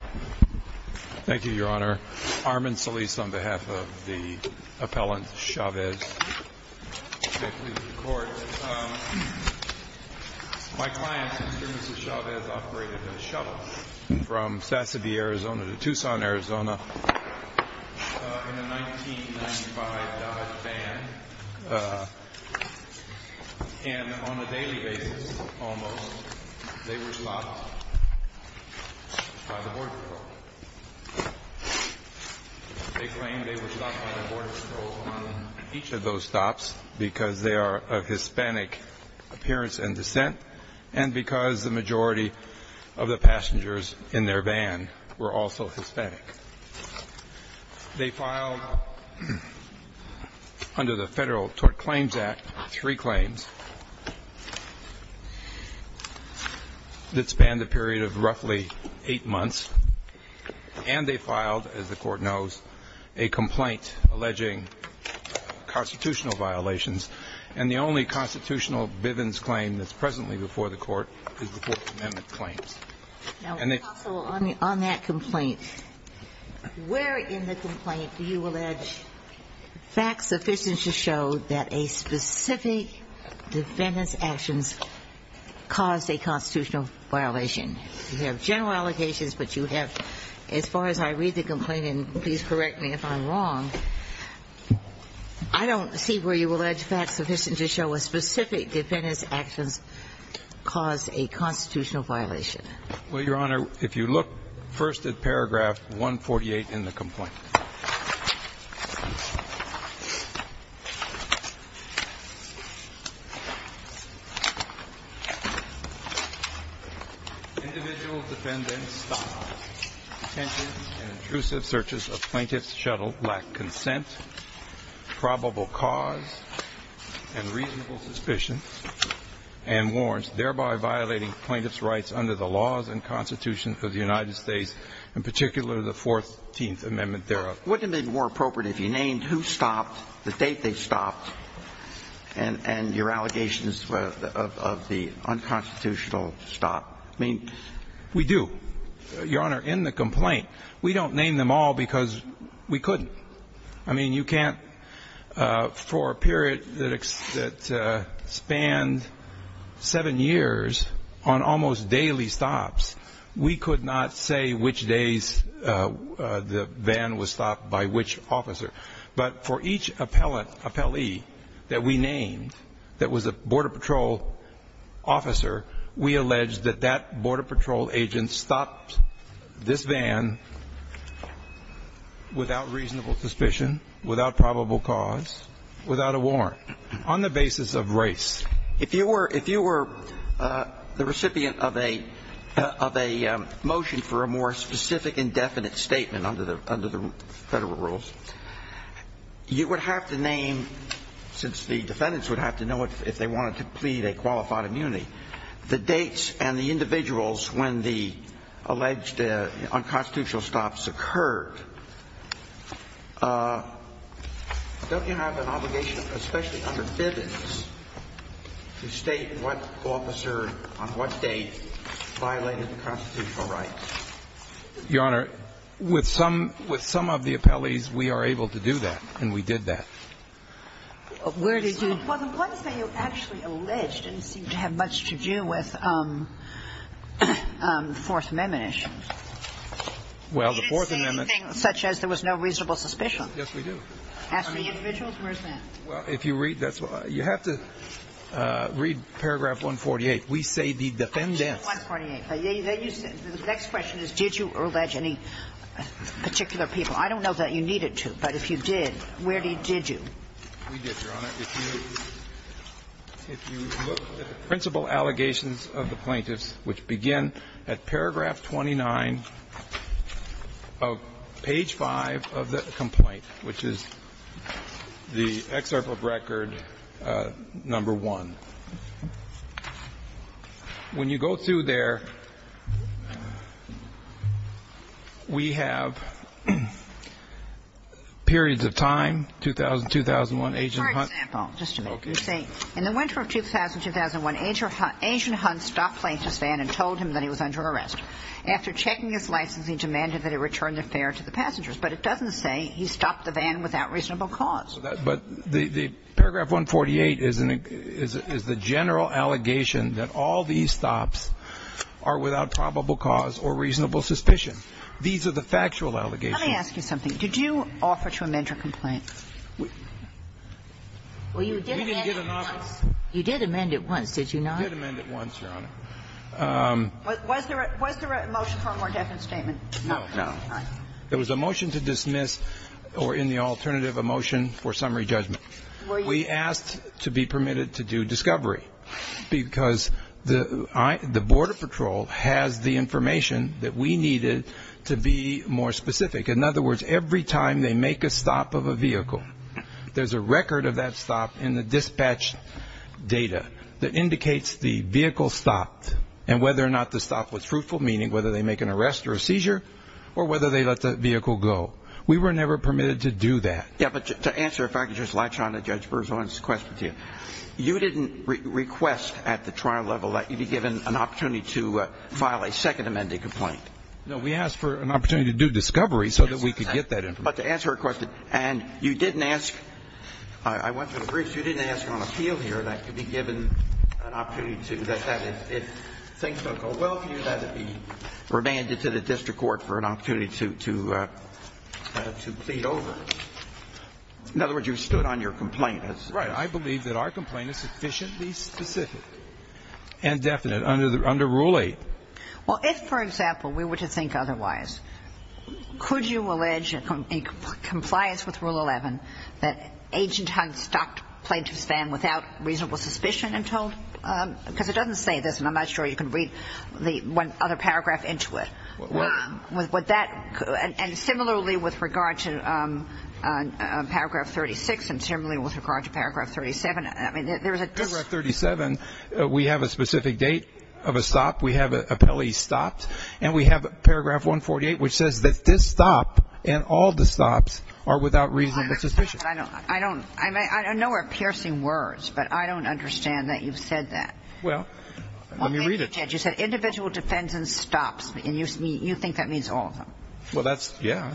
Thank you, Your Honor. Armin Solis on behalf of the appellant Chavez. May it please the Court. My client, Mr. and Mrs. Chavez, operated a shuttle from Sassabee, Arizona to Tucson, Arizona in a 1995 Dodge van. And on a daily basis, almost, they were stopped by the Border Patrol. They claimed they were stopped by the Border Patrol on each of those stops because they are of Hispanic appearance and descent and because the majority of the passengers in their van were also Hispanic. They filed under the Federal Tort Claims Act three claims that spanned a period of roughly eight months. And they filed, as the Court knows, a complaint alleging constitutional violations. And the only constitutional Bivens claim that's presently before the Court is the Fourth Amendment claims. Now, counsel, on that complaint, where in the complaint do you allege facts sufficient to show that a specific defendant's actions caused a constitutional violation? You have general allegations, but you have, as far as I read the complaint, and please correct me if I'm wrong, I don't see where you allege facts sufficient to show a specific defendant's actions caused a constitutional violation. Well, Your Honor, if you look first at paragraph 148 in the complaint. Individual defendants' thoughts, intentions, and intrusive searches of plaintiffs' shuttles lack consent, probable cause, and reasonable suspicion, and warrants, thereby violating plaintiffs' rights under the laws and Constitution of the United States, in particular the Fourteenth Amendment thereof. Wouldn't it have been more appropriate if you named who stopped, the date they stopped, and your allegations of the unconstitutional stop? We do, Your Honor, in the complaint. We don't name them all because we couldn't. I mean, you can't, for a period that spanned seven years on almost daily stops, we could not say which days the van was stopped by which officer. But for each appellant, appellee, that we named that was a Border Patrol officer, we allege that that Border Patrol agent stopped this van without reasonable suspicion, without probable cause, without a warrant, on the basis of race. If you were the recipient of a motion for a more specific and definite statement under the Federal rules, you would have to name, since the defendants would have to know if they wanted to plead a qualified immunity, the dates and the individuals when the alleged unconstitutional stops occurred. Don't you have an obligation, especially under FIVIS, to state what officer on what date violated the constitutional rights? Your Honor, with some of the appellees, we are able to do that, and we did that. Where did you do that? Well, the one thing you actually alleged didn't seem to have much to do with the Fourth Amendment issues. We didn't say anything such as there was no reasonable suspicion. Yes, we do. On the individuals? Where is that? Well, if you read, that's why. You have to read paragraph 148. We say the defendants. The next question is, did you allege any particular people? I don't know that you needed to, but if you did, where did you? We did, Your Honor. If you look at the principal allegations of the plaintiffs, which begin at paragraph 29 of page 5 of the complaint, which is the excerpt of record number 1, when you go through there, we have periods of time, 2000-2001, you see, in the winter of 2000-2001, Agent Hunt stopped the plaintiff's van and told him that he was under arrest. After checking his license, he demanded that he return the fare to the passengers. But it doesn't say he stopped the van without reasonable cause. But paragraph 148 is the general allegation that all these stops are without probable cause or reasonable suspicion. These are the factual allegations. Let me ask you something. Did you offer to amend your complaint? We didn't get an offer. You did amend it once, did you not? We did amend it once, Your Honor. Was there a motion for a more definite statement? No. No. All right. There was a motion to dismiss or in the alternative, a motion for summary judgment. We asked to be permitted to do discovery because the Border Patrol has the information that we needed to be more specific. In other words, every time they make a stop of a vehicle, there's a record of that stop in the dispatch data that indicates the vehicle stopped and whether or not the stop was fruitful, meaning whether they make an arrest or a seizure or whether they let the vehicle go. We were never permitted to do that. Yes, but to answer, if I could just latch on to Judge Berzon's question to you. You didn't request at the trial level that you be given an opportunity to file a second amending complaint. No, we asked for an opportunity to do discovery so that we could get that information. But to answer her question, and you didn't ask, I went through the briefs, you didn't ask on appeal here that you be given an opportunity to, that if things don't go well for you, that it be remanded to the district court for an opportunity to plead over. In other words, you stood on your complaint. Right. I believe that our complaint is sufficiently specific and definite under Rule 8. Well, if, for example, we were to think otherwise, could you allege in compliance with Rule 11 that Agent Hunt stopped plaintiff's van without reasonable suspicion until, because it doesn't say this, and I'm not sure you can read the other paragraph into it. What? Would that, and similarly with regard to Paragraph 36 and similarly with regard to Paragraph 37, I mean, there's a we have a specific date of a stop, we have an appellee stopped, and we have Paragraph 148, which says that this stop and all the stops are without reasonable suspicion. I don't, I don't, I know we're piercing words, but I don't understand that you've said that. Well, let me read it. You said individual defends and stops, and you think that means all of them. Well, that's, yeah.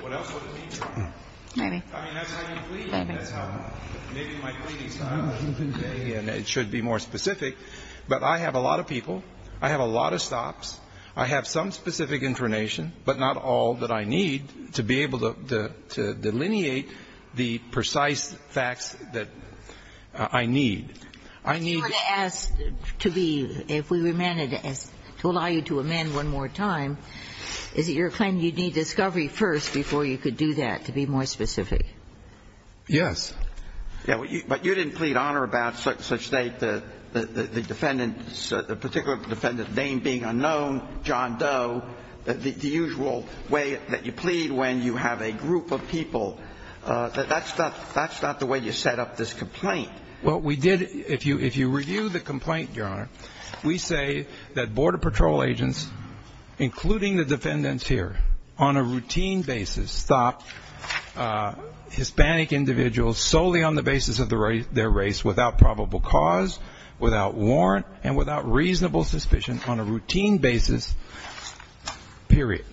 What else would it mean, Your Honor? Maybe. I mean, that's how you plead. Maybe. Maybe my plea is not, and it should be more specific. But I have a lot of people, I have a lot of stops, I have some specific information, but not all that I need to be able to delineate the precise facts that I need. I need. You would ask to be, if we were meant to allow you to amend one more time, is it your claim you'd need discovery first before you could do that, to be more specific? Yes. Yeah, but you didn't plead honor about such that the defendant, the particular defendant's name being unknown, John Doe, the usual way that you plead when you have a group of people. That's not the way you set up this complaint. Well, we did. If you review the complaint, Your Honor, we say that Border Patrol agents, including the defendants here, on a routine basis stop Hispanic individuals solely on the basis of their race without probable cause, without warrant, and without reasonable suspicion on a routine basis, period.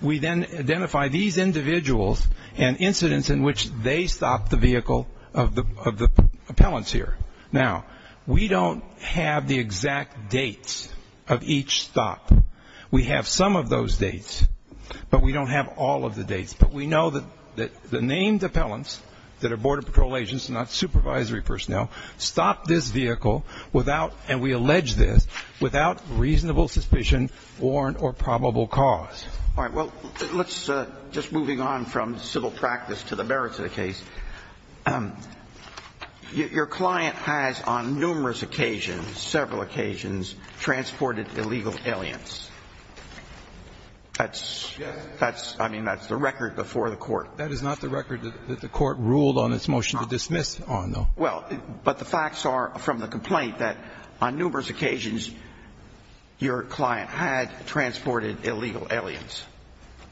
We then identify these individuals and incidents in which they stopped the vehicle of the appellants here. Now, we don't have the exact dates of each stop. We have some of those dates, but we don't have all of the dates. But we know that the named appellants that are Border Patrol agents, not supervisory personnel, stopped this vehicle without, and we allege this, without reasonable suspicion, warrant, or probable cause. All right. Well, let's just moving on from civil practice to the merits of the case. Your client has on numerous occasions, several occasions, transported illegal aliens. That's the record before the Court. That is not the record that the Court ruled on its motion to dismiss on, though. Well, but the facts are from the complaint that on numerous occasions, your client had transported illegal aliens.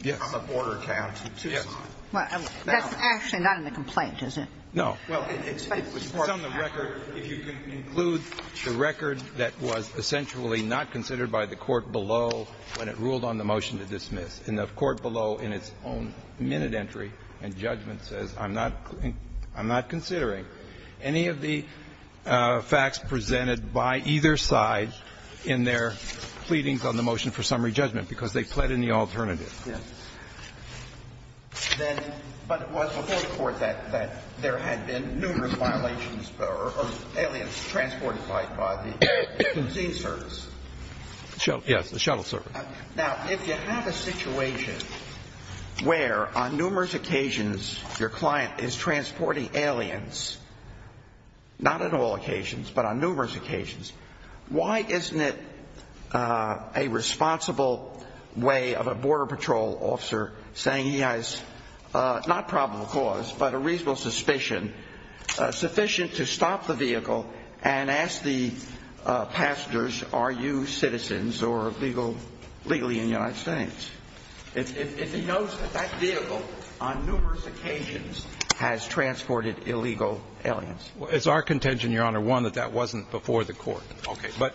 Yes. On the border account. Yes. Well, that's actually not in the complaint, is it? No. Well, it's on the record. If you can include the record that was essentially not considered by the court below when it ruled on the motion to dismiss, and the court below in its own minute entry and judgment says, I'm not considering any of the facts presented by either side in their pleadings on the motion for summary judgment, because they pled in the alternative. Yes. But it was before the Court that there had been numerous violations or aliens transported by the disease service. Yes, the shuttle service. Now, if you have a situation where on numerous occasions your client is transporting aliens, not on all occasions, but on numerous occasions, why isn't it a responsible way of a border patrol officer saying he has not probable cause, but a reasonable suspicion, sufficient to stop the vehicle and ask the passengers, are you citizens or legally in the United States? If he knows that that vehicle on numerous occasions has transported illegal aliens. It's our contention, Your Honor, one, that that wasn't before the court. Okay. But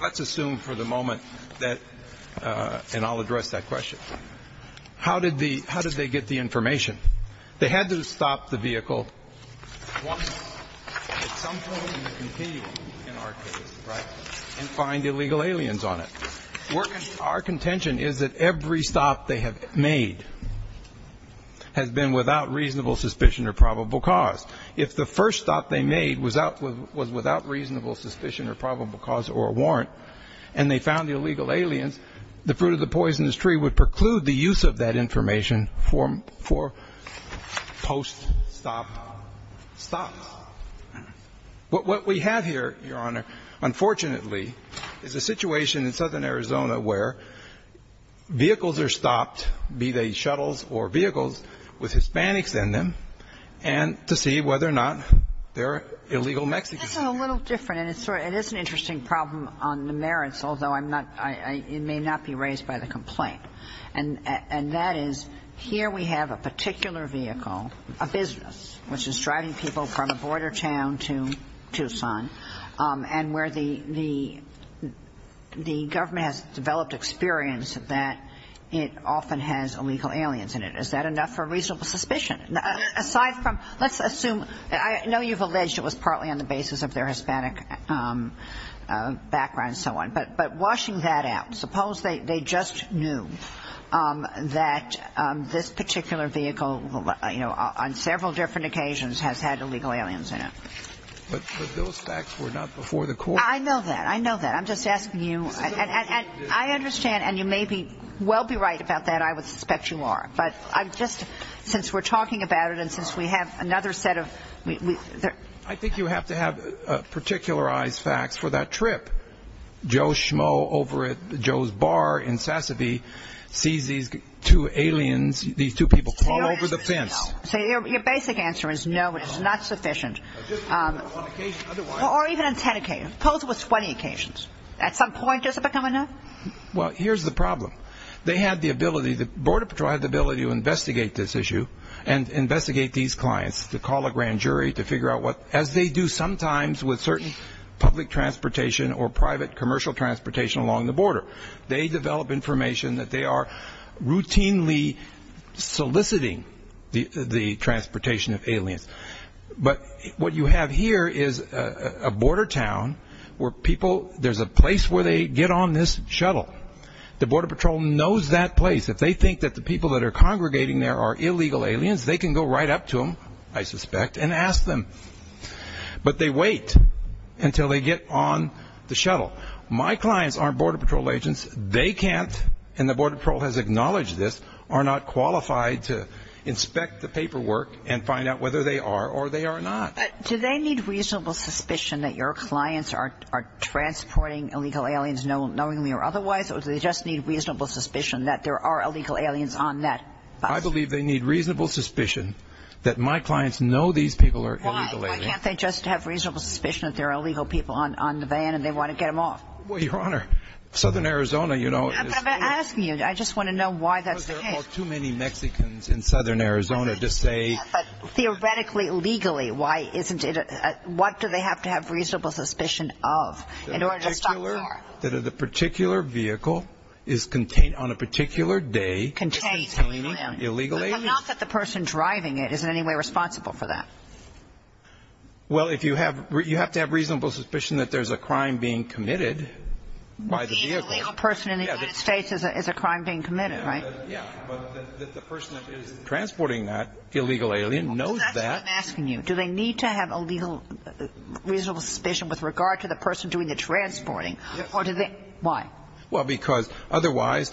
let's assume for the moment that, and I'll address that question, how did the how did they get the information? They had to stop the vehicle once. At some point in the competing in our case, right, and find illegal aliens on it. Our contention is that every stop they have made has been without reasonable suspicion or probable cause. If the first stop they made was without reasonable suspicion or probable cause or warrant, and they found the illegal aliens, the fruit of the poisonous tree would preclude the use of that information for post-stop stops. What we have here, Your Honor, unfortunately, is a situation in southern Arizona where vehicles are stopped, be they shuttles or vehicles with Hispanics in them, and to see whether or not they're illegal Mexicans. This is a little different, and it is an interesting problem on the merits, although it may not be raised by the complaint. And that is here we have a particular vehicle, a business, which is driving people from a border town to Tucson, and where the government has developed experience that it often has illegal aliens in it. Is that enough for reasonable suspicion? Aside from, let's assume, I know you've alleged it was partly on the basis of their Hispanic background and so on, but washing that out. Suppose they just knew that this particular vehicle, you know, on several different occasions has had illegal aliens in it. But those facts were not before the court. I know that. I know that. I'm just asking you. And I understand, and you may well be right about that. I would suspect you are. But I'm just, since we're talking about it and since we have another set of... I think you have to have particularized facts for that trip. Joe Schmo over at Joe's Bar in Sasabe sees these two aliens, these two people, crawl over the fence. So your basic answer is no, it is not sufficient. Or even on 10 occasions. Suppose it was 20 occasions. At some point, does it become enough? Well, here's the problem. They had the ability, the Border Patrol had the ability to investigate this issue and investigate these clients, to call a grand jury to figure out what, as they do sometimes with certain public transportation or private commercial transportation along the border. They develop information that they are routinely soliciting the transportation of aliens. But what you have here is a border town where people, there's a place where they get on this shuttle. The Border Patrol knows that place. If they think that the people that are congregating there are illegal aliens, they can go right up to them, I suspect, and ask them. But they wait until they get on the shuttle. My clients aren't Border Patrol agents. They can't, and the Border Patrol has acknowledged this, are not qualified to inspect the paperwork and find out whether they are or they are not. Do they need reasonable suspicion that your clients are transporting illegal aliens, knowingly or otherwise, or do they just need reasonable suspicion that there are illegal aliens on that bus? I believe they need reasonable suspicion that my clients know these people are illegal aliens. Why? Why can't they just have reasonable suspicion that there are illegal people on the van and they want to get them off? Well, Your Honor, Southern Arizona, you know. I'm not asking you. I just want to know why that's the case. Because there are far too many Mexicans in Southern Arizona to say. But theoretically, legally, why isn't it? What do they have to have reasonable suspicion of in order to stop a car? That the particular vehicle is contained on a particular day. Contained. Illegal aliens. But not that the person driving it is in any way responsible for that. Well, you have to have reasonable suspicion that there's a crime being committed by the vehicle. Being a legal person in the United States is a crime being committed, right? Yeah. But that the person that is transporting that illegal alien knows that. That's what I'm asking you. Do they need to have a legal reasonable suspicion with regard to the person doing the transporting? Or do they – why? Well, because otherwise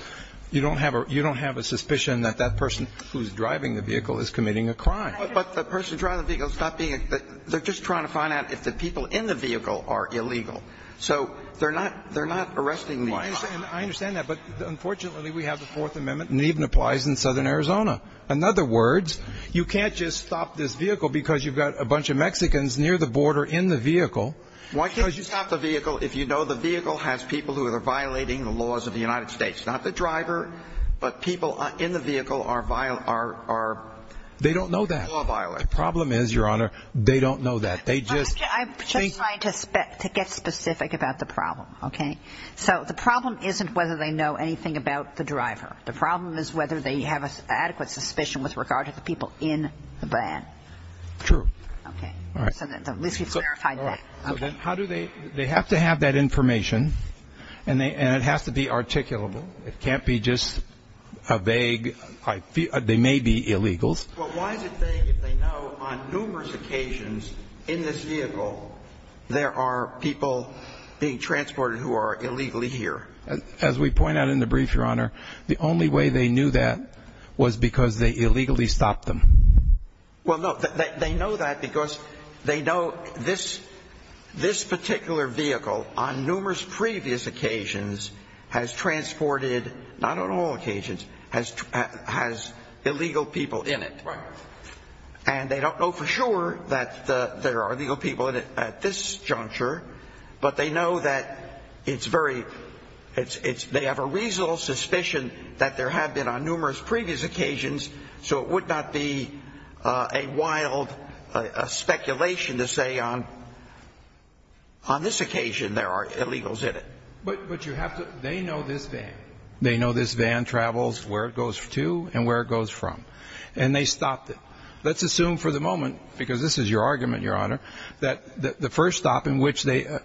you don't have a suspicion that that person who's driving the vehicle is committing a crime. But the person driving the vehicle is not being – they're just trying to find out if the people in the vehicle are illegal. So they're not arresting the – I understand that. But, unfortunately, we have the Fourth Amendment, and it even applies in southern Arizona. In other words, you can't just stop this vehicle because you've got a bunch of Mexicans near the border in the vehicle. Why can't you stop the vehicle if you know the vehicle has people who are violating the laws of the United States? Not the driver, but people in the vehicle are – They don't know that. Law violators. The problem is, Your Honor, they don't know that. They just – I'm just trying to get specific about the problem, okay? So the problem isn't whether they know anything about the driver. The problem is whether they have an adequate suspicion with regard to the people in the van. True. Okay. All right. So at least you've clarified that. So then how do they – they have to have that information, and it has to be articulable. It can't be just a vague – they may be illegals. Well, why is it vague if they know on numerous occasions in this vehicle there are people being transported who are illegally here? As we point out in the brief, Your Honor, the only way they knew that was because they illegally stopped them. Well, no, they know that because they know this particular vehicle on numerous previous occasions has transported – not on all occasions – has illegal people in it. Right. And they don't know for sure that there are illegal people at this juncture, but they know that it's very – a wild speculation to say on this occasion there are illegals in it. But you have to – they know this van. They know this van travels where it goes to and where it goes from. And they stopped it. Let's assume for the moment, because this is your argument, Your Honor, that the first stop in which they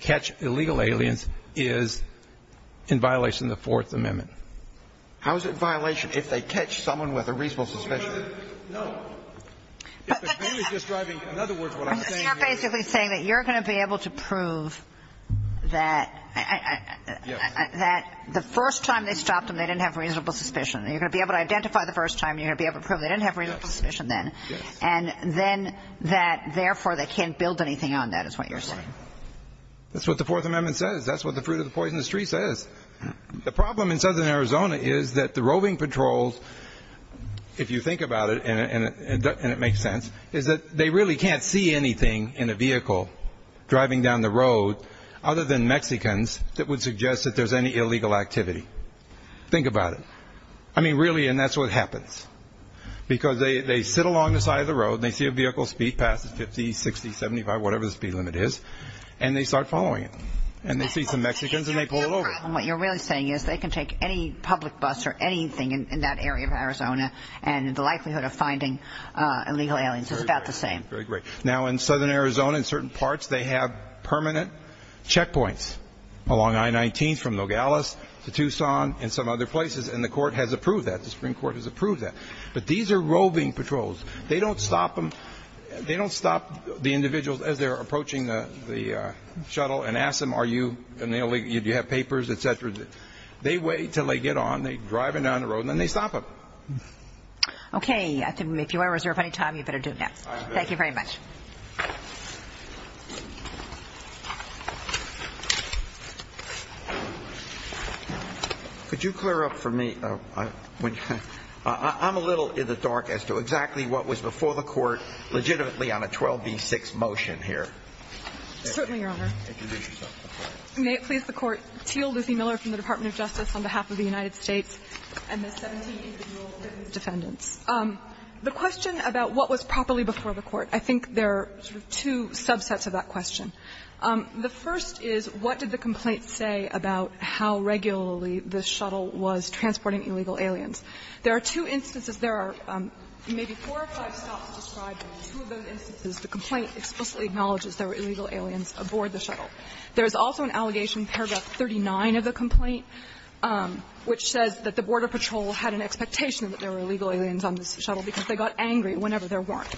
catch illegal aliens is in violation of the Fourth Amendment. How is it in violation if they catch someone with a reasonable suspicion? No. If the van is just driving – in other words, what I'm saying is – So you're basically saying that you're going to be able to prove that the first time they stopped them, they didn't have reasonable suspicion. You're going to be able to identify the first time. You're going to be able to prove they didn't have reasonable suspicion then. Yes. And then that, therefore, they can't build anything on that is what you're saying. Right. That's what the Fourth Amendment says. That's what the fruit of the poisonous tree says. The problem in southern Arizona is that the roving patrols, if you think about it, and it makes sense, is that they really can't see anything in a vehicle driving down the road other than Mexicans that would suggest that there's any illegal activity. Think about it. I mean, really, and that's what happens, because they sit along the side of the road and they see a vehicle speed past 50, 60, 75, whatever the speed limit is, and they start following it. And they see some Mexicans and they pull it over. What you're really saying is they can take any public bus or anything in that area of Arizona and the likelihood of finding illegal aliens is about the same. Very great. Now, in southern Arizona, in certain parts, they have permanent checkpoints along I-19 from Nogales to Tucson and some other places, and the court has approved that. The Supreme Court has approved that. But these are roving patrols. They don't stop the individuals as they're approaching the shuttle and ask them, do you have papers, et cetera. They wait until they get on, they drive them down the road, and then they stop them. Okay. If you want to reserve any time, you better do that. Thank you very much. Could you clear up for me? I'm a little in the dark as to exactly what was before the court legitimately on a 12b-6 motion here. Certainly, Your Honor. May it please the Court. Teal Lucy Miller from the Department of Justice on behalf of the United States and the 17 individual defendants. The question about what was properly before the court, I think there are sort of two subsets of that question. The first is what did the complaint say about how regularly the shuttle was transporting illegal aliens? There are two instances. There are maybe four or five stops to describe, but in two of those instances the complaint explicitly acknowledges there were illegal aliens aboard the shuttle. There is also an allegation, paragraph 39 of the complaint, which says that the border patrol had an expectation that there were illegal aliens on this shuttle because they got angry whenever there weren't.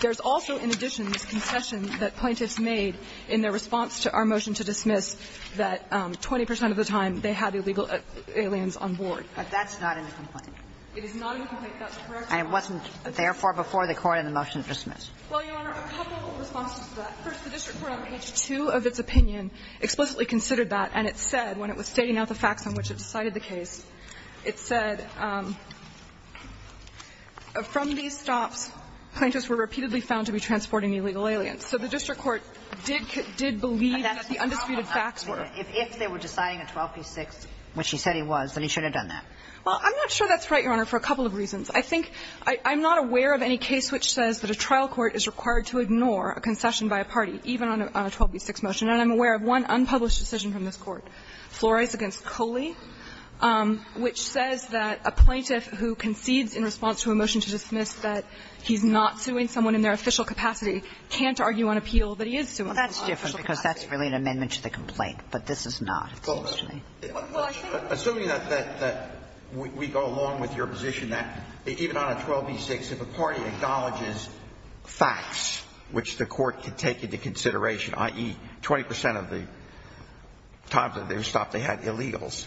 There's also, in addition, this concession that plaintiffs made in their response to our motion to dismiss that 20 percent of the time they had illegal aliens on board. But that's not in the complaint. It is not in the complaint. That's correct, Your Honor. And it wasn't therefore before the court in the motion to dismiss. Well, Your Honor, a couple of responses to that. First, the district court on page 2 of its opinion explicitly considered that and it said, when it was stating out the facts on which it decided the case, it said, from these stops, plaintiffs were repeatedly found to be transporting illegal aliens. So the district court did believe that the undisputed facts were. If they were deciding a 12b-6, which he said he was, then he should have done that. Well, I'm not sure that's right, Your Honor, for a couple of reasons. I think I'm not aware of any case which says that a trial court is required to ignore a concession by a party, even on a 12b-6 motion. And I'm aware of one unpublished decision from this Court, Flores v. Coley, which says that a plaintiff who concedes in response to a motion to dismiss that he's not suing someone in their official capacity can't argue on appeal that he is suing someone in their official capacity. Well, that's different because that's really an amendment to the complaint, but this is not. Assuming that we go along with your position that even on a 12b-6, if a party acknowledges facts which the Court could take into consideration, i.e., 20 percent of the times that they stopped, they had illegals,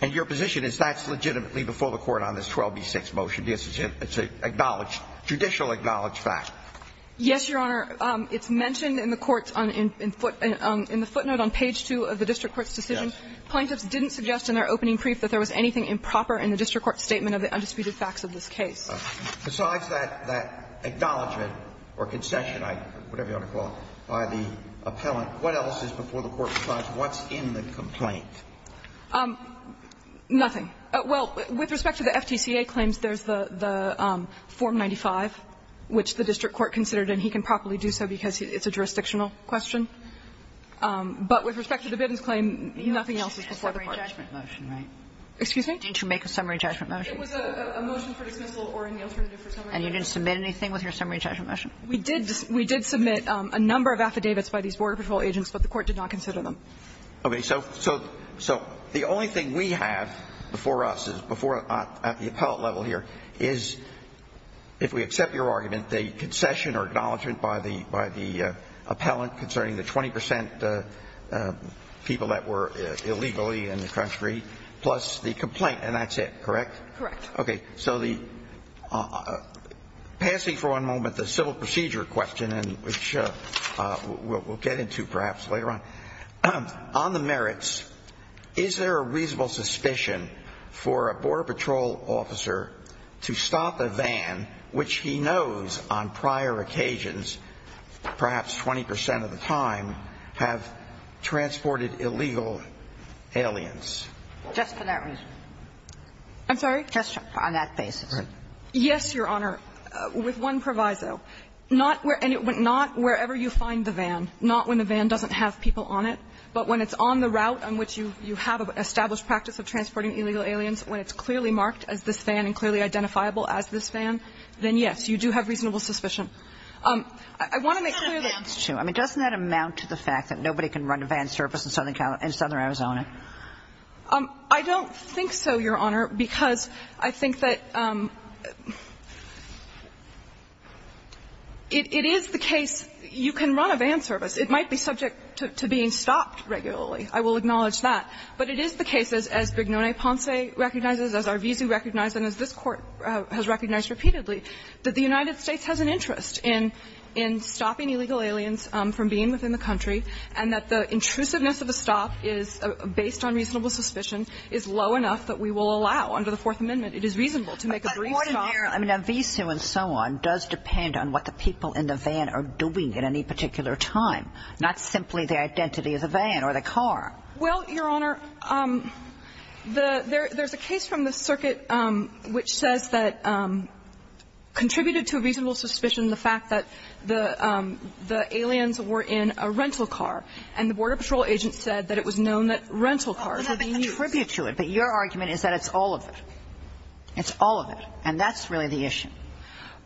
and your position is that's legitimately before the Court on this 12b-6 motion. It's an acknowledged, judicially acknowledged fact. Yes, Your Honor. It's mentioned in the court's in the footnote on page 2 of the district court's decision. Yes. Plaintiffs didn't suggest in their opening brief that there was anything improper in the district court's statement of the undisputed facts of this case. Besides that acknowledgment or concession, whatever you want to call it, by the appellant, what else is before the court besides what's in the complaint? Nothing. Well, with respect to the FTCA claims, there's the Form 95, which the district court considered, and he can properly do so because it's a jurisdictional question. But with respect to the Biddens claim, nothing else is before the court. You had a summary judgment motion, right? Excuse me? Didn't you make a summary judgment motion? It was a motion for dismissal or an alternative for summary judgment. And you didn't submit anything with your summary judgment motion? We did submit a number of affidavits by these Border Patrol agents, but the Court did not consider them. Okay. So the only thing we have before us at the appellate level here is, if we accept your argument, the concession or acknowledgment by the appellant concerning the 20 percent people that were illegally in the country plus the complaint, and that's it, correct? Correct. Okay. So passing for one moment the civil procedure question, which we'll get into perhaps later on. On the merits, is there a reasonable suspicion for a Border Patrol officer to stop a van which he knows on prior occasions, perhaps 20 percent of the time, have transported illegal aliens? Just for that reason. I'm sorry? Just on that basis. Right. Yes, Your Honor, with one proviso. And it went not wherever you find the van, not when the van doesn't have people on it, but when it's on the route on which you have an established practice of transporting illegal aliens, when it's clearly marked as this van and clearly identifiable as this van, then, yes, you do have reasonable suspicion. I want to make clear that. Doesn't that amount to the fact that nobody can run a van service in Southern Arizona? I don't think so, Your Honor, because I think that it is the case you can run a van service. It might be subject to being stopped regularly. I will acknowledge that. But it is the case, as Brignone-Ponce recognizes, as Arvizu recognizes, and as this Court has recognized repeatedly, that the United States has an interest in stopping illegal aliens from being within the country, and that the intrusiveness of the stop is, based on reasonable suspicion, is low enough that we will allow under the Fourth Amendment. It is reasonable to make a brief stop. But the point in there, I mean, Arvizu and so on, does depend on what the people in the van are doing at any particular time, not simply the identity of the van or the car. Well, Your Honor, there's a case from the circuit which says that contributed to a reasonable suspicion the fact that the aliens were in a rental car. And the Border Patrol agent said that it was known that rental cars were being used. How would that contribute to it? But your argument is that it's all of it. It's all of it. And that's really the issue.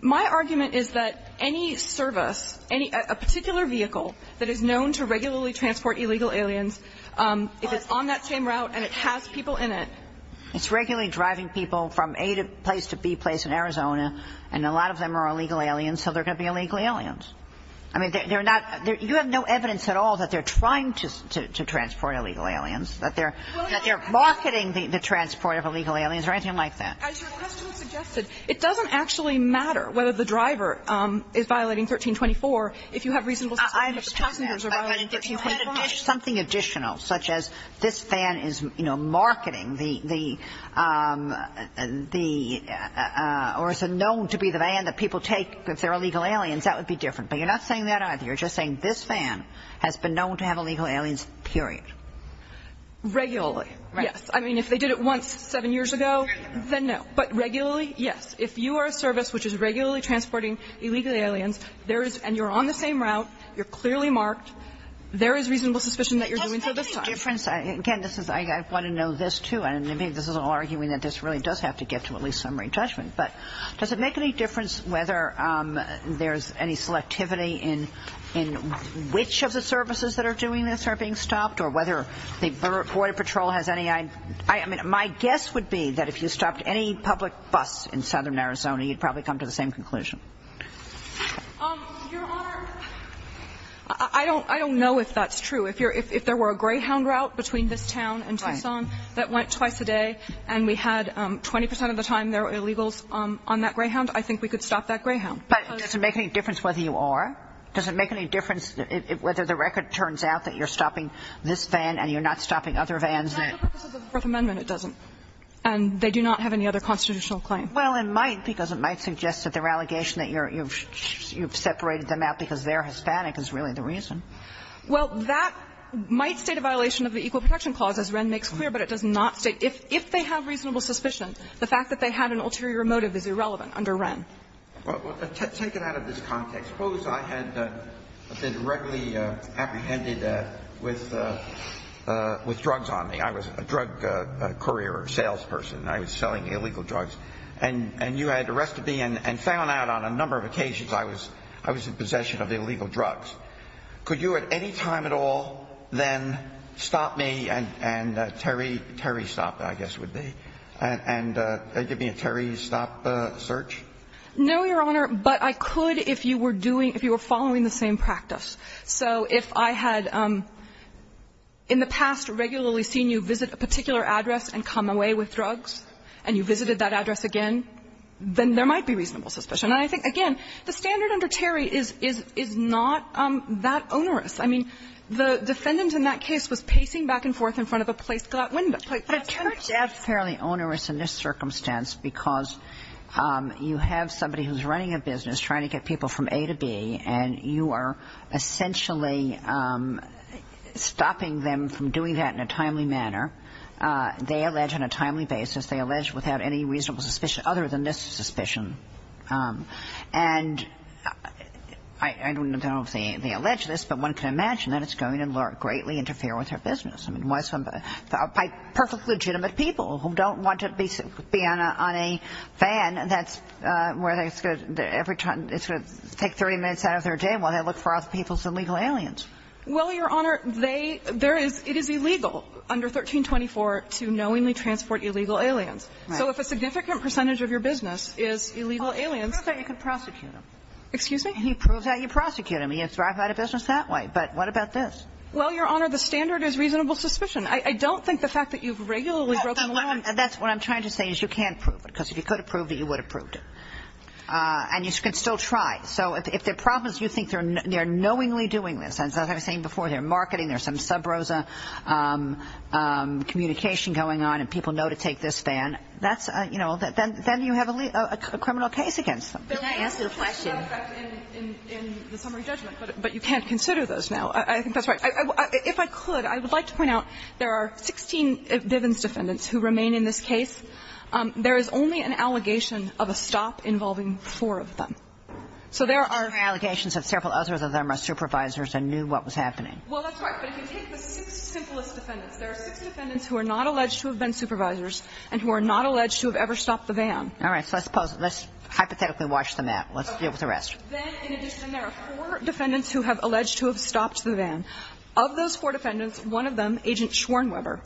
My argument is that any service, any particular vehicle that is known to regularly transport illegal aliens, if it's on that same route and it has people in it. It's regularly driving people from A place to B place in Arizona, and a lot of them are illegal aliens, so they're going to be illegal aliens. I mean, they're not – you have no evidence at all that they're trying to transport illegal aliens, that they're marketing the transport of illegal aliens or anything like that. As your question suggested, it doesn't actually matter whether the driver is violating 1324 if you have reasonable suspicion that the passengers are violating 1324. I understand that, but if you had something additional, such as this van is, you know, the – or is known to be the van that people take if they're illegal aliens, that would be different. But you're not saying that either. You're just saying this van has been known to have illegal aliens, period. Regularly, yes. Right. I mean, if they did it once seven years ago, then no. But regularly, yes. If you are a service which is regularly transporting illegal aliens, there is – and you're on the same route, you're clearly marked, there is reasonable suspicion that you're doing so this time. Does it make any difference – again, this is – I want to know this, too, and maybe this is all arguing that this really does have to get to at least summary judgment, but does it make any difference whether there's any selectivity in which of the services that are doing this are being stopped or whether the Border Patrol has any – I mean, my guess would be that if you stopped any public bus in southern Arizona, you'd probably come to the same conclusion. Your Honor, I don't know if that's true. If you're – if there were a Greyhound route between this town and Tucson that went twice a day and we had 20 percent of the time there were illegals on that Greyhound, I think we could stop that Greyhound. But does it make any difference whether you are? Does it make any difference whether the record turns out that you're stopping this van and you're not stopping other vans? No, but this is the Fourth Amendment. It doesn't. And they do not have any other constitutional claim. Well, it might, because it might suggest that their allegation that you're – you've separated them out because they're Hispanic is really the reason. Well, that might state a violation of the Equal Protection Clause, as Wren makes clear, but it does not state – if they have reasonable suspicion, the fact that they have an ulterior motive is irrelevant under Wren. Well, take it out of this context. Suppose I had been regularly apprehended with drugs on me. I was a drug courier or salesperson. I was selling illegal drugs. And you had arrested me and found out on a number of occasions I was in possession of illegal drugs. Could you at any time at all then stop me and – and Terry – Terry stop, I guess would be – and give me a Terry stop search? No, Your Honor. But I could if you were doing – if you were following the same practice. So if I had in the past regularly seen you visit a particular address and come away with drugs, and you visited that address again, then there might be reasonable suspicion. And I think, again, the standard under Terry is – is – is not that onerous. I mean, the defendant in that case was pacing back and forth in front of a place glass window. But it's not just – But it's fairly onerous in this circumstance because you have somebody who's running a business trying to get people from A to B, and you are essentially stopping them from doing that in a timely manner. They allege on a timely basis. They allege without any reasonable suspicion other than this suspicion. And I don't know if they – they allege this, but one can imagine that it's going to greatly interfere with their business. I mean, why some – by perfect legitimate people who don't want to be on a – on a van that's – where it's going to – every time – it's going to take 30 minutes out of their day while they look for other people's illegal aliens. Well, Your Honor, they – there is – it is illegal under 1324 to knowingly transport illegal aliens. Right. So if a significant percentage of your business is illegal aliens – Well, he proves that you can prosecute them. Excuse me? He proves that you prosecute them. You have to drive out of business that way. But what about this? Well, Your Honor, the standard is reasonable suspicion. I don't think the fact that you've regularly broken the law – That's what I'm trying to say is you can't prove it, because if you could have proved it, you would have proved it. And you can still try. So if their problem is you think they're knowingly doing this, as I was saying before, they're marketing, there's some sub rosa communication going on, and people know to take this van, that's – you know, then you have a criminal case against them. Can I answer the question? But that has an effect in the summary judgment, but you can't consider those now. I think that's right. If I could, I would like to point out there are 16 Bivens defendants who remain in this case. There is only an allegation of a stop involving four of them. So there are – And there are allegations that several others of them are supervisors and knew what was happening. Well, that's right. But if you take the six simplest defendants, there are six defendants who are not alleged to have been supervisors and who are not alleged to have ever stopped the van. All right. So let's hypothetically watch the mat. Let's deal with the rest. Then, in addition, there are four defendants who have alleged to have stopped the van. Of those four defendants, one of them, Agent Schwernweber,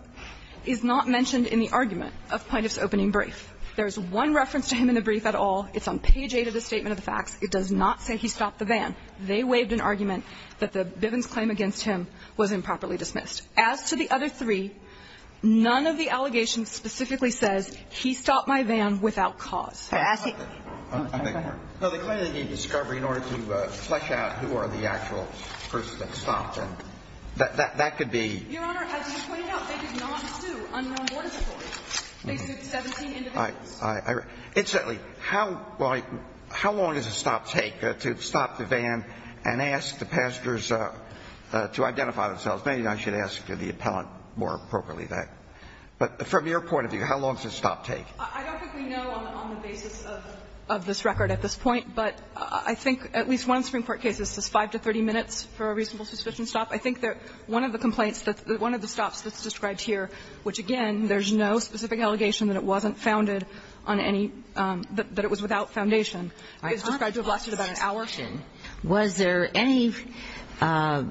is not mentioned in the argument of Plaintiff's opening brief. There is one reference to him in the brief at all. It's on page 8 of the Statement of the Facts. It does not say he stopped the van. They waived an argument that the Bivens claim against him was improperly dismissed. As to the other three, none of the allegations specifically says he stopped my van without cause. As he – No, they claim they need discovery in order to flesh out who are the actual persons that stopped it. That could be – Your Honor, as you pointed out, they did not sue unknown board employees. They sued 17 individuals. Incidentally, how long does a stop take to stop the van and ask the passengers to identify themselves? Maybe I should ask the appellant more appropriately that. But from your point of view, how long does a stop take? I don't think we know on the basis of this record at this point. But I think at least one Supreme Court case, it says 5 to 30 minutes for a reasonable suspicion stop. I think that one of the complaints, one of the stops that's described here, which, again, there's no specific allegation that it wasn't founded on any – that it was without foundation, is described to have lasted about an hour. Was there any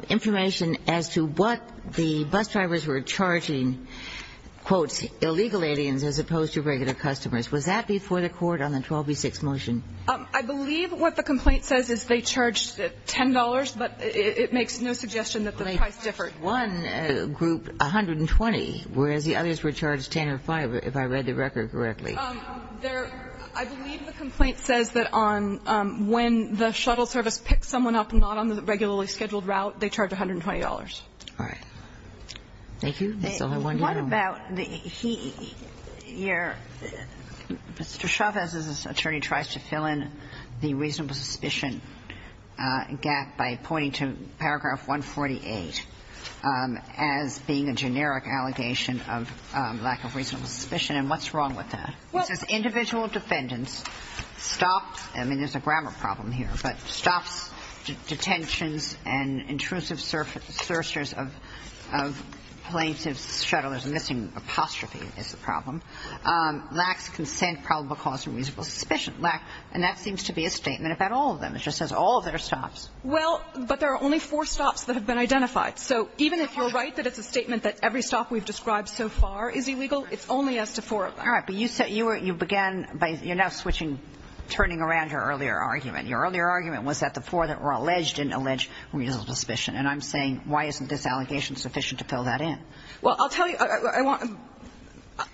information as to what the bus drivers were charging, quote, illegal aliens as opposed to regular customers? Was that before the court on the 12B6 motion? I believe what the complaint says is they charged $10, but it makes no suggestion that the price differed. I believe that one group, 120, whereas the others were charged 10 and 5, if I read the record correctly. There – I believe the complaint says that on – when the shuttle service picks someone up not on the regularly scheduled route, they charge $120. All right. Thank you. That's all I wanted to know. What about the – your – Mr. Chavez's attorney tries to fill in the reasonable suspicion gap by pointing to paragraph 148 as being a generic allegation of lack of reasonable suspicion. And what's wrong with that? He says individual defendants stop – I mean, there's a grammar problem here, but stops, detentions and intrusive searchers of plaintiff's shuttle. There's a missing apostrophe is the problem. Lacks consent, probable cause for reasonable suspicion. Lacks – and that seems to be a statement about all of them. It just says all of their stops. Well, but there are only four stops that have been identified. So even if you're right that it's a statement that every stop we've described so far is illegal, it's only as to four of them. All right. But you said you were – you began by – you're now switching, turning around your earlier argument. Your earlier argument was that the four that were alleged didn't allege reasonable suspicion. And I'm saying why isn't this allegation sufficient to fill that in? Well, I'll tell you – I want –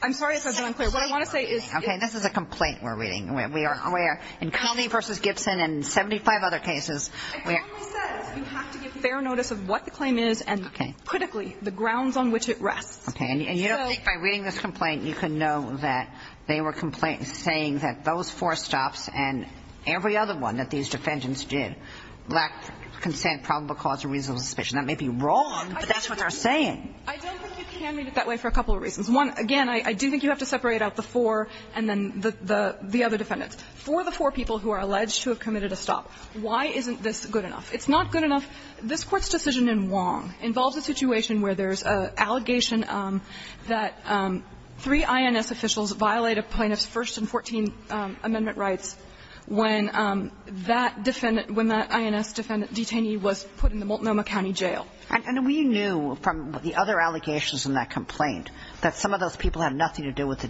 I'm sorry if I've been unclear. What I want to say is – This is a complaint we're reading. We are – in Conley v. Gibson and 75 other cases where – Conley says you have to give fair notice of what the claim is and, critically, the grounds on which it rests. Okay. And you don't think by reading this complaint you can know that they were saying that those four stops and every other one that these defendants did lacked consent, probable cause for reasonable suspicion. That may be wrong, but that's what they're saying. I don't think you can read it that way for a couple of reasons. One, again, I do think you have to separate out the four and then the other defendants. For the four people who are alleged to have committed a stop, why isn't this good enough? It's not good enough. This Court's decision in Wong involves a situation where there's an allegation that three INS officials violated plaintiffs' First and 14th Amendment rights when that defendant – when that INS defendant detainee was put in the Multnomah County Jail. And we knew from the other allegations in that complaint that some of those people had nothing to do with the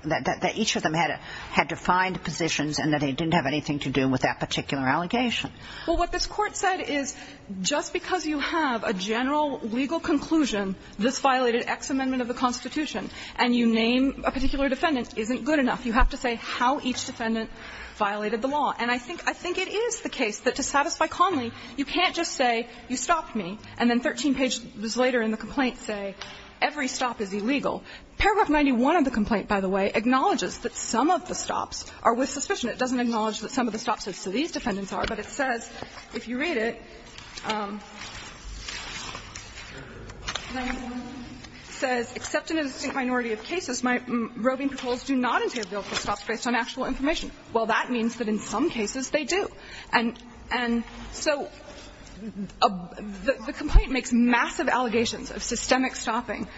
– that each of them had defined positions and that they didn't have anything to do with that particular allegation. Well, what this Court said is just because you have a general legal conclusion this violated X Amendment of the Constitution and you name a particular defendant isn't good enough. You have to say how each defendant violated the law. And I think – I think it is the case that to satisfy Conley, you can't just say you stopped me and then 13 pages later in the complaint say every stop is illegal. Paragraph 91 of the complaint, by the way, acknowledges that some of the stops are with suspicion. It doesn't acknowledge that some of the stops are to these defendants are, but it says, if you read it, it says, Well, that means that in some cases they do. And – and so the complaint makes massive allegations of systemic stopping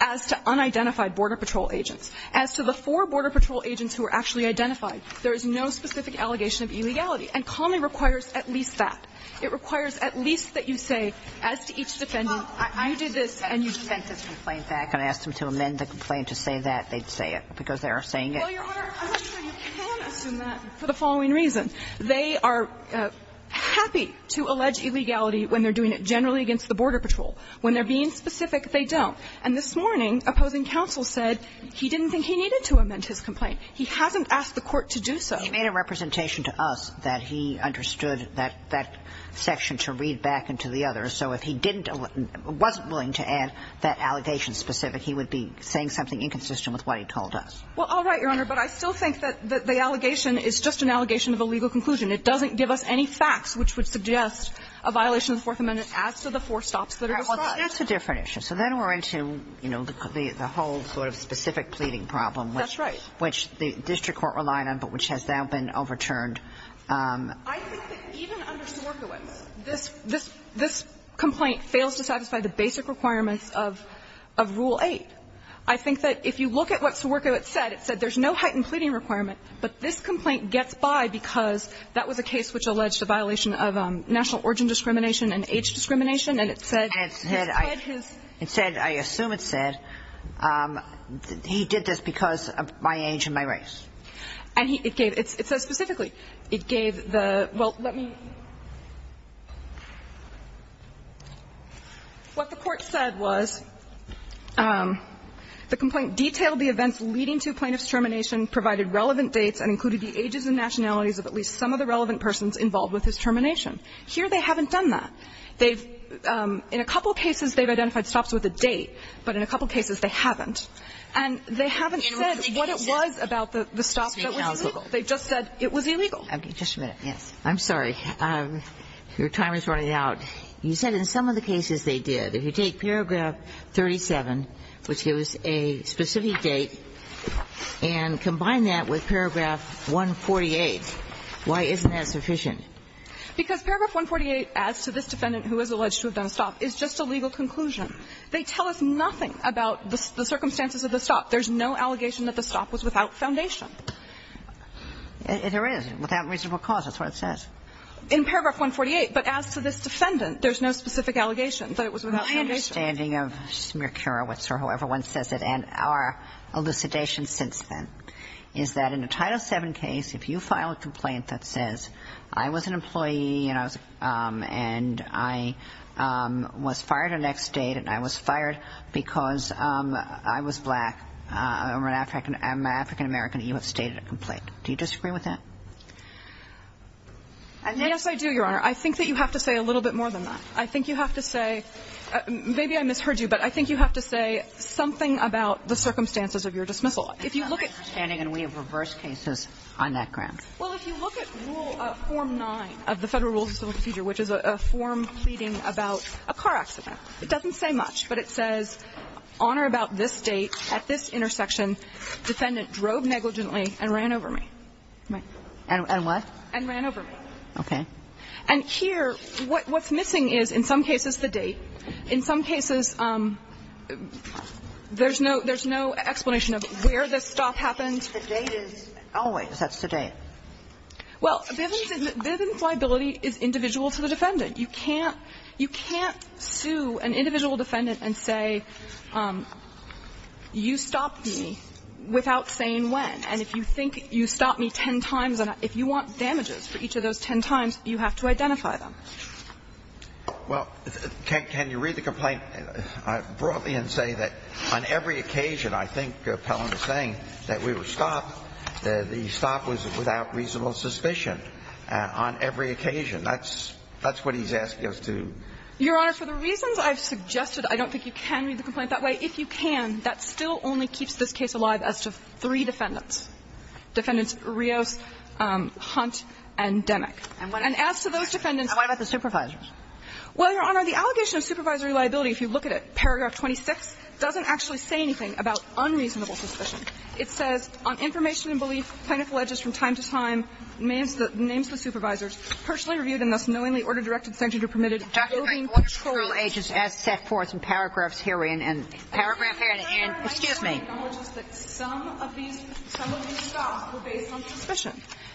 as to unidentified Border Patrol agents. As to the four Border Patrol agents who were actually identified, there is no specific allegation of illegality. And Conley requires at least that. It requires at least that you say, as to each defendant, you did this and you sent this complaint back and asked them to amend the complaint to say that, they'd say it because they are saying it. Well, Your Honor, I'm not sure you can assume that for the following reason. They are happy to allege illegality when they're doing it generally against the Border Patrol. When they're being specific, they don't. And this morning, opposing counsel said he didn't think he needed to amend his complaint. He hasn't asked the Court to do so. He made a representation to us that he understood that – that section to read back into the others. So if he didn't – wasn't willing to add that allegation specific, he would be saying something inconsistent with what he told us. Well, all right, Your Honor. But I still think that – that the allegation is just an allegation of a legal conclusion. It doesn't give us any facts which would suggest a violation of the Fourth Amendment as to the four stops that are described. Well, that's a different issue. So then we're into, you know, the whole sort of specific pleading problem. That's right. Which the district court relied on, but which has now been overturned. I think that even under Swerkiewicz, this – this complaint fails to satisfy the basic requirements of Rule 8. I think that if you look at what Swerkiewicz said, it said there's no heightened pleading requirement, but this complaint gets by because that was a case which alleged a violation of national origin discrimination and age discrimination, and it said his pledges – It said, I assume it said, he did this because of my age and my race. And he – it gave – it says specifically, it gave the – well, let me – what the court said was the complaint detailed the events leading to a plaintiff's termination, provided relevant dates, and included the ages and nationalities of at least some of the relevant persons involved with his termination. Here, they haven't done that. They've – in a couple cases, they've identified stops with a date, but in a couple cases, they haven't. And they haven't said what it was about the stop that was illegal. They just said it was illegal. Kagan. Okay. Just a minute. Yes. I'm sorry. Your time is running out. You said in some of the cases they did. If you take paragraph 37, which gives a specific date, and combine that with paragraph 148, why isn't that sufficient? Because paragraph 148, as to this defendant who is alleged to have done a stop, is just a legal conclusion. They tell us nothing about the circumstances of the stop. There's no allegation that the stop was without foundation. There is. Without reasonable cause. That's what it says. In paragraph 148. But as to this defendant, there's no specific allegation that it was without foundation. My understanding of Smierkiewicz or whoever one says it, and our elucidation since then, is that in a Title VII case, if you file a complaint that says I was an immigrant, I was fired because I was black, I'm an African American, you have stated a complaint. Do you disagree with that? Yes, I do, Your Honor. I think that you have to say a little bit more than that. I think you have to say – maybe I misheard you, but I think you have to say something about the circumstances of your dismissal. If you look at – My understanding, and we have reversed cases on that ground. Well, if you look at Rule – Form 9 of the Federal Rules of Civil Procedure, which is a form pleading about a car accident. It doesn't say much, but it says on or about this date, at this intersection, defendant drove negligently and ran over me. And what? And ran over me. Okay. And here, what's missing is, in some cases, the date. In some cases, there's no – there's no explanation of where the stop happened. The date is always. That's the date. Well, Bivens liability is individual to the defendant. You can't – you can't sue an individual defendant and say, you stopped me without saying when. And if you think you stopped me ten times, and if you want damages for each of those ten times, you have to identify them. Well, can you read the complaint broadly and say that on every occasion, I think Pellin was saying that we were stopped, the stop was without reasonable suspicion on every occasion. That's – that's what he's asking us to do. Your Honor, for the reasons I've suggested, I don't think you can read the complaint that way. If you can, that still only keeps this case alive as to three defendants. Defendants Rios, Hunt, and Demick. And as to those defendants – And what about the supervisors? Well, Your Honor, the allegation of supervisory liability, if you look at it, paragraph 26, doesn't actually say anything about unreasonable suspicion. It says,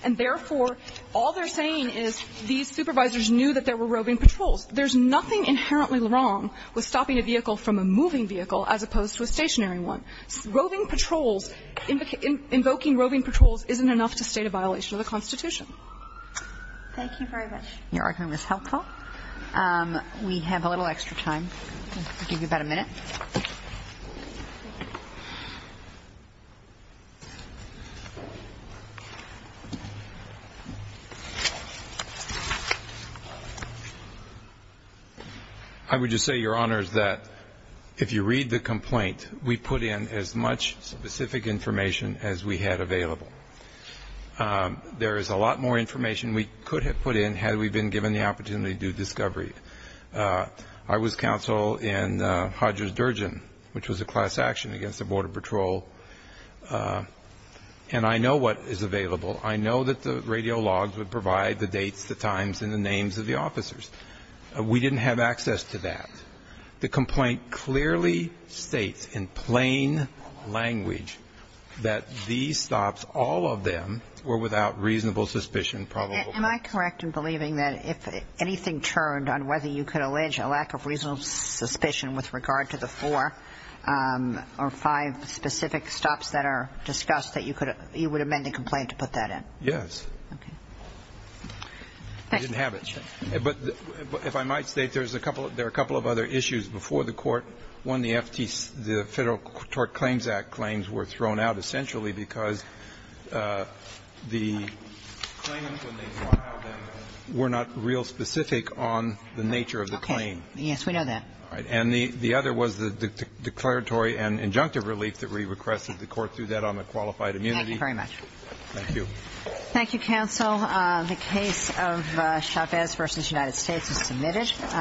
And therefore, all they're saying is these supervisors knew that there were roving patrols. There's nothing inherently wrong with stopping a vehicle from a moving vehicle as opposed to a stationary one. Roving patrols – invoking roving patrols isn't enough to state a violation of the Constitution. Thank you very much. Your argument is helpful. We have a little extra time. I'll give you about a minute. I would just say, Your Honors, that if you read the complaint, we put in as much specific information as we had available. There is a lot more information we could have put in had we been given the opportunity to do discovery. I was counsel in Hodger's Durgeon, which was a class action against the Border Patrol. And I know what is available. I know that the radio logs would provide the dates, the times, and the names of the officers. We didn't have access to that. The complaint clearly states in plain language that these stops, all of them, were without reasonable suspicion, probably. Am I correct in believing that if anything turned on whether you could allege a lack of reasonable suspicion with regard to the four or five specific stops that are discussed, that you would amend the complaint to put that in? Yes. Okay. I didn't have it. But if I might state, there are a couple of other issues before the Court. One, the Federal Tort Claims Act claims were thrown out essentially because the claimant when they filed them were not real specific on the nature of the claim. Okay. Yes, we know that. All right. And the other was the declaratory and injunctive relief that we requested the Court do that on the qualified immunity. Thank you very much. Thank you. Thank you, counsel. The case of Chavez v. United States is submitted.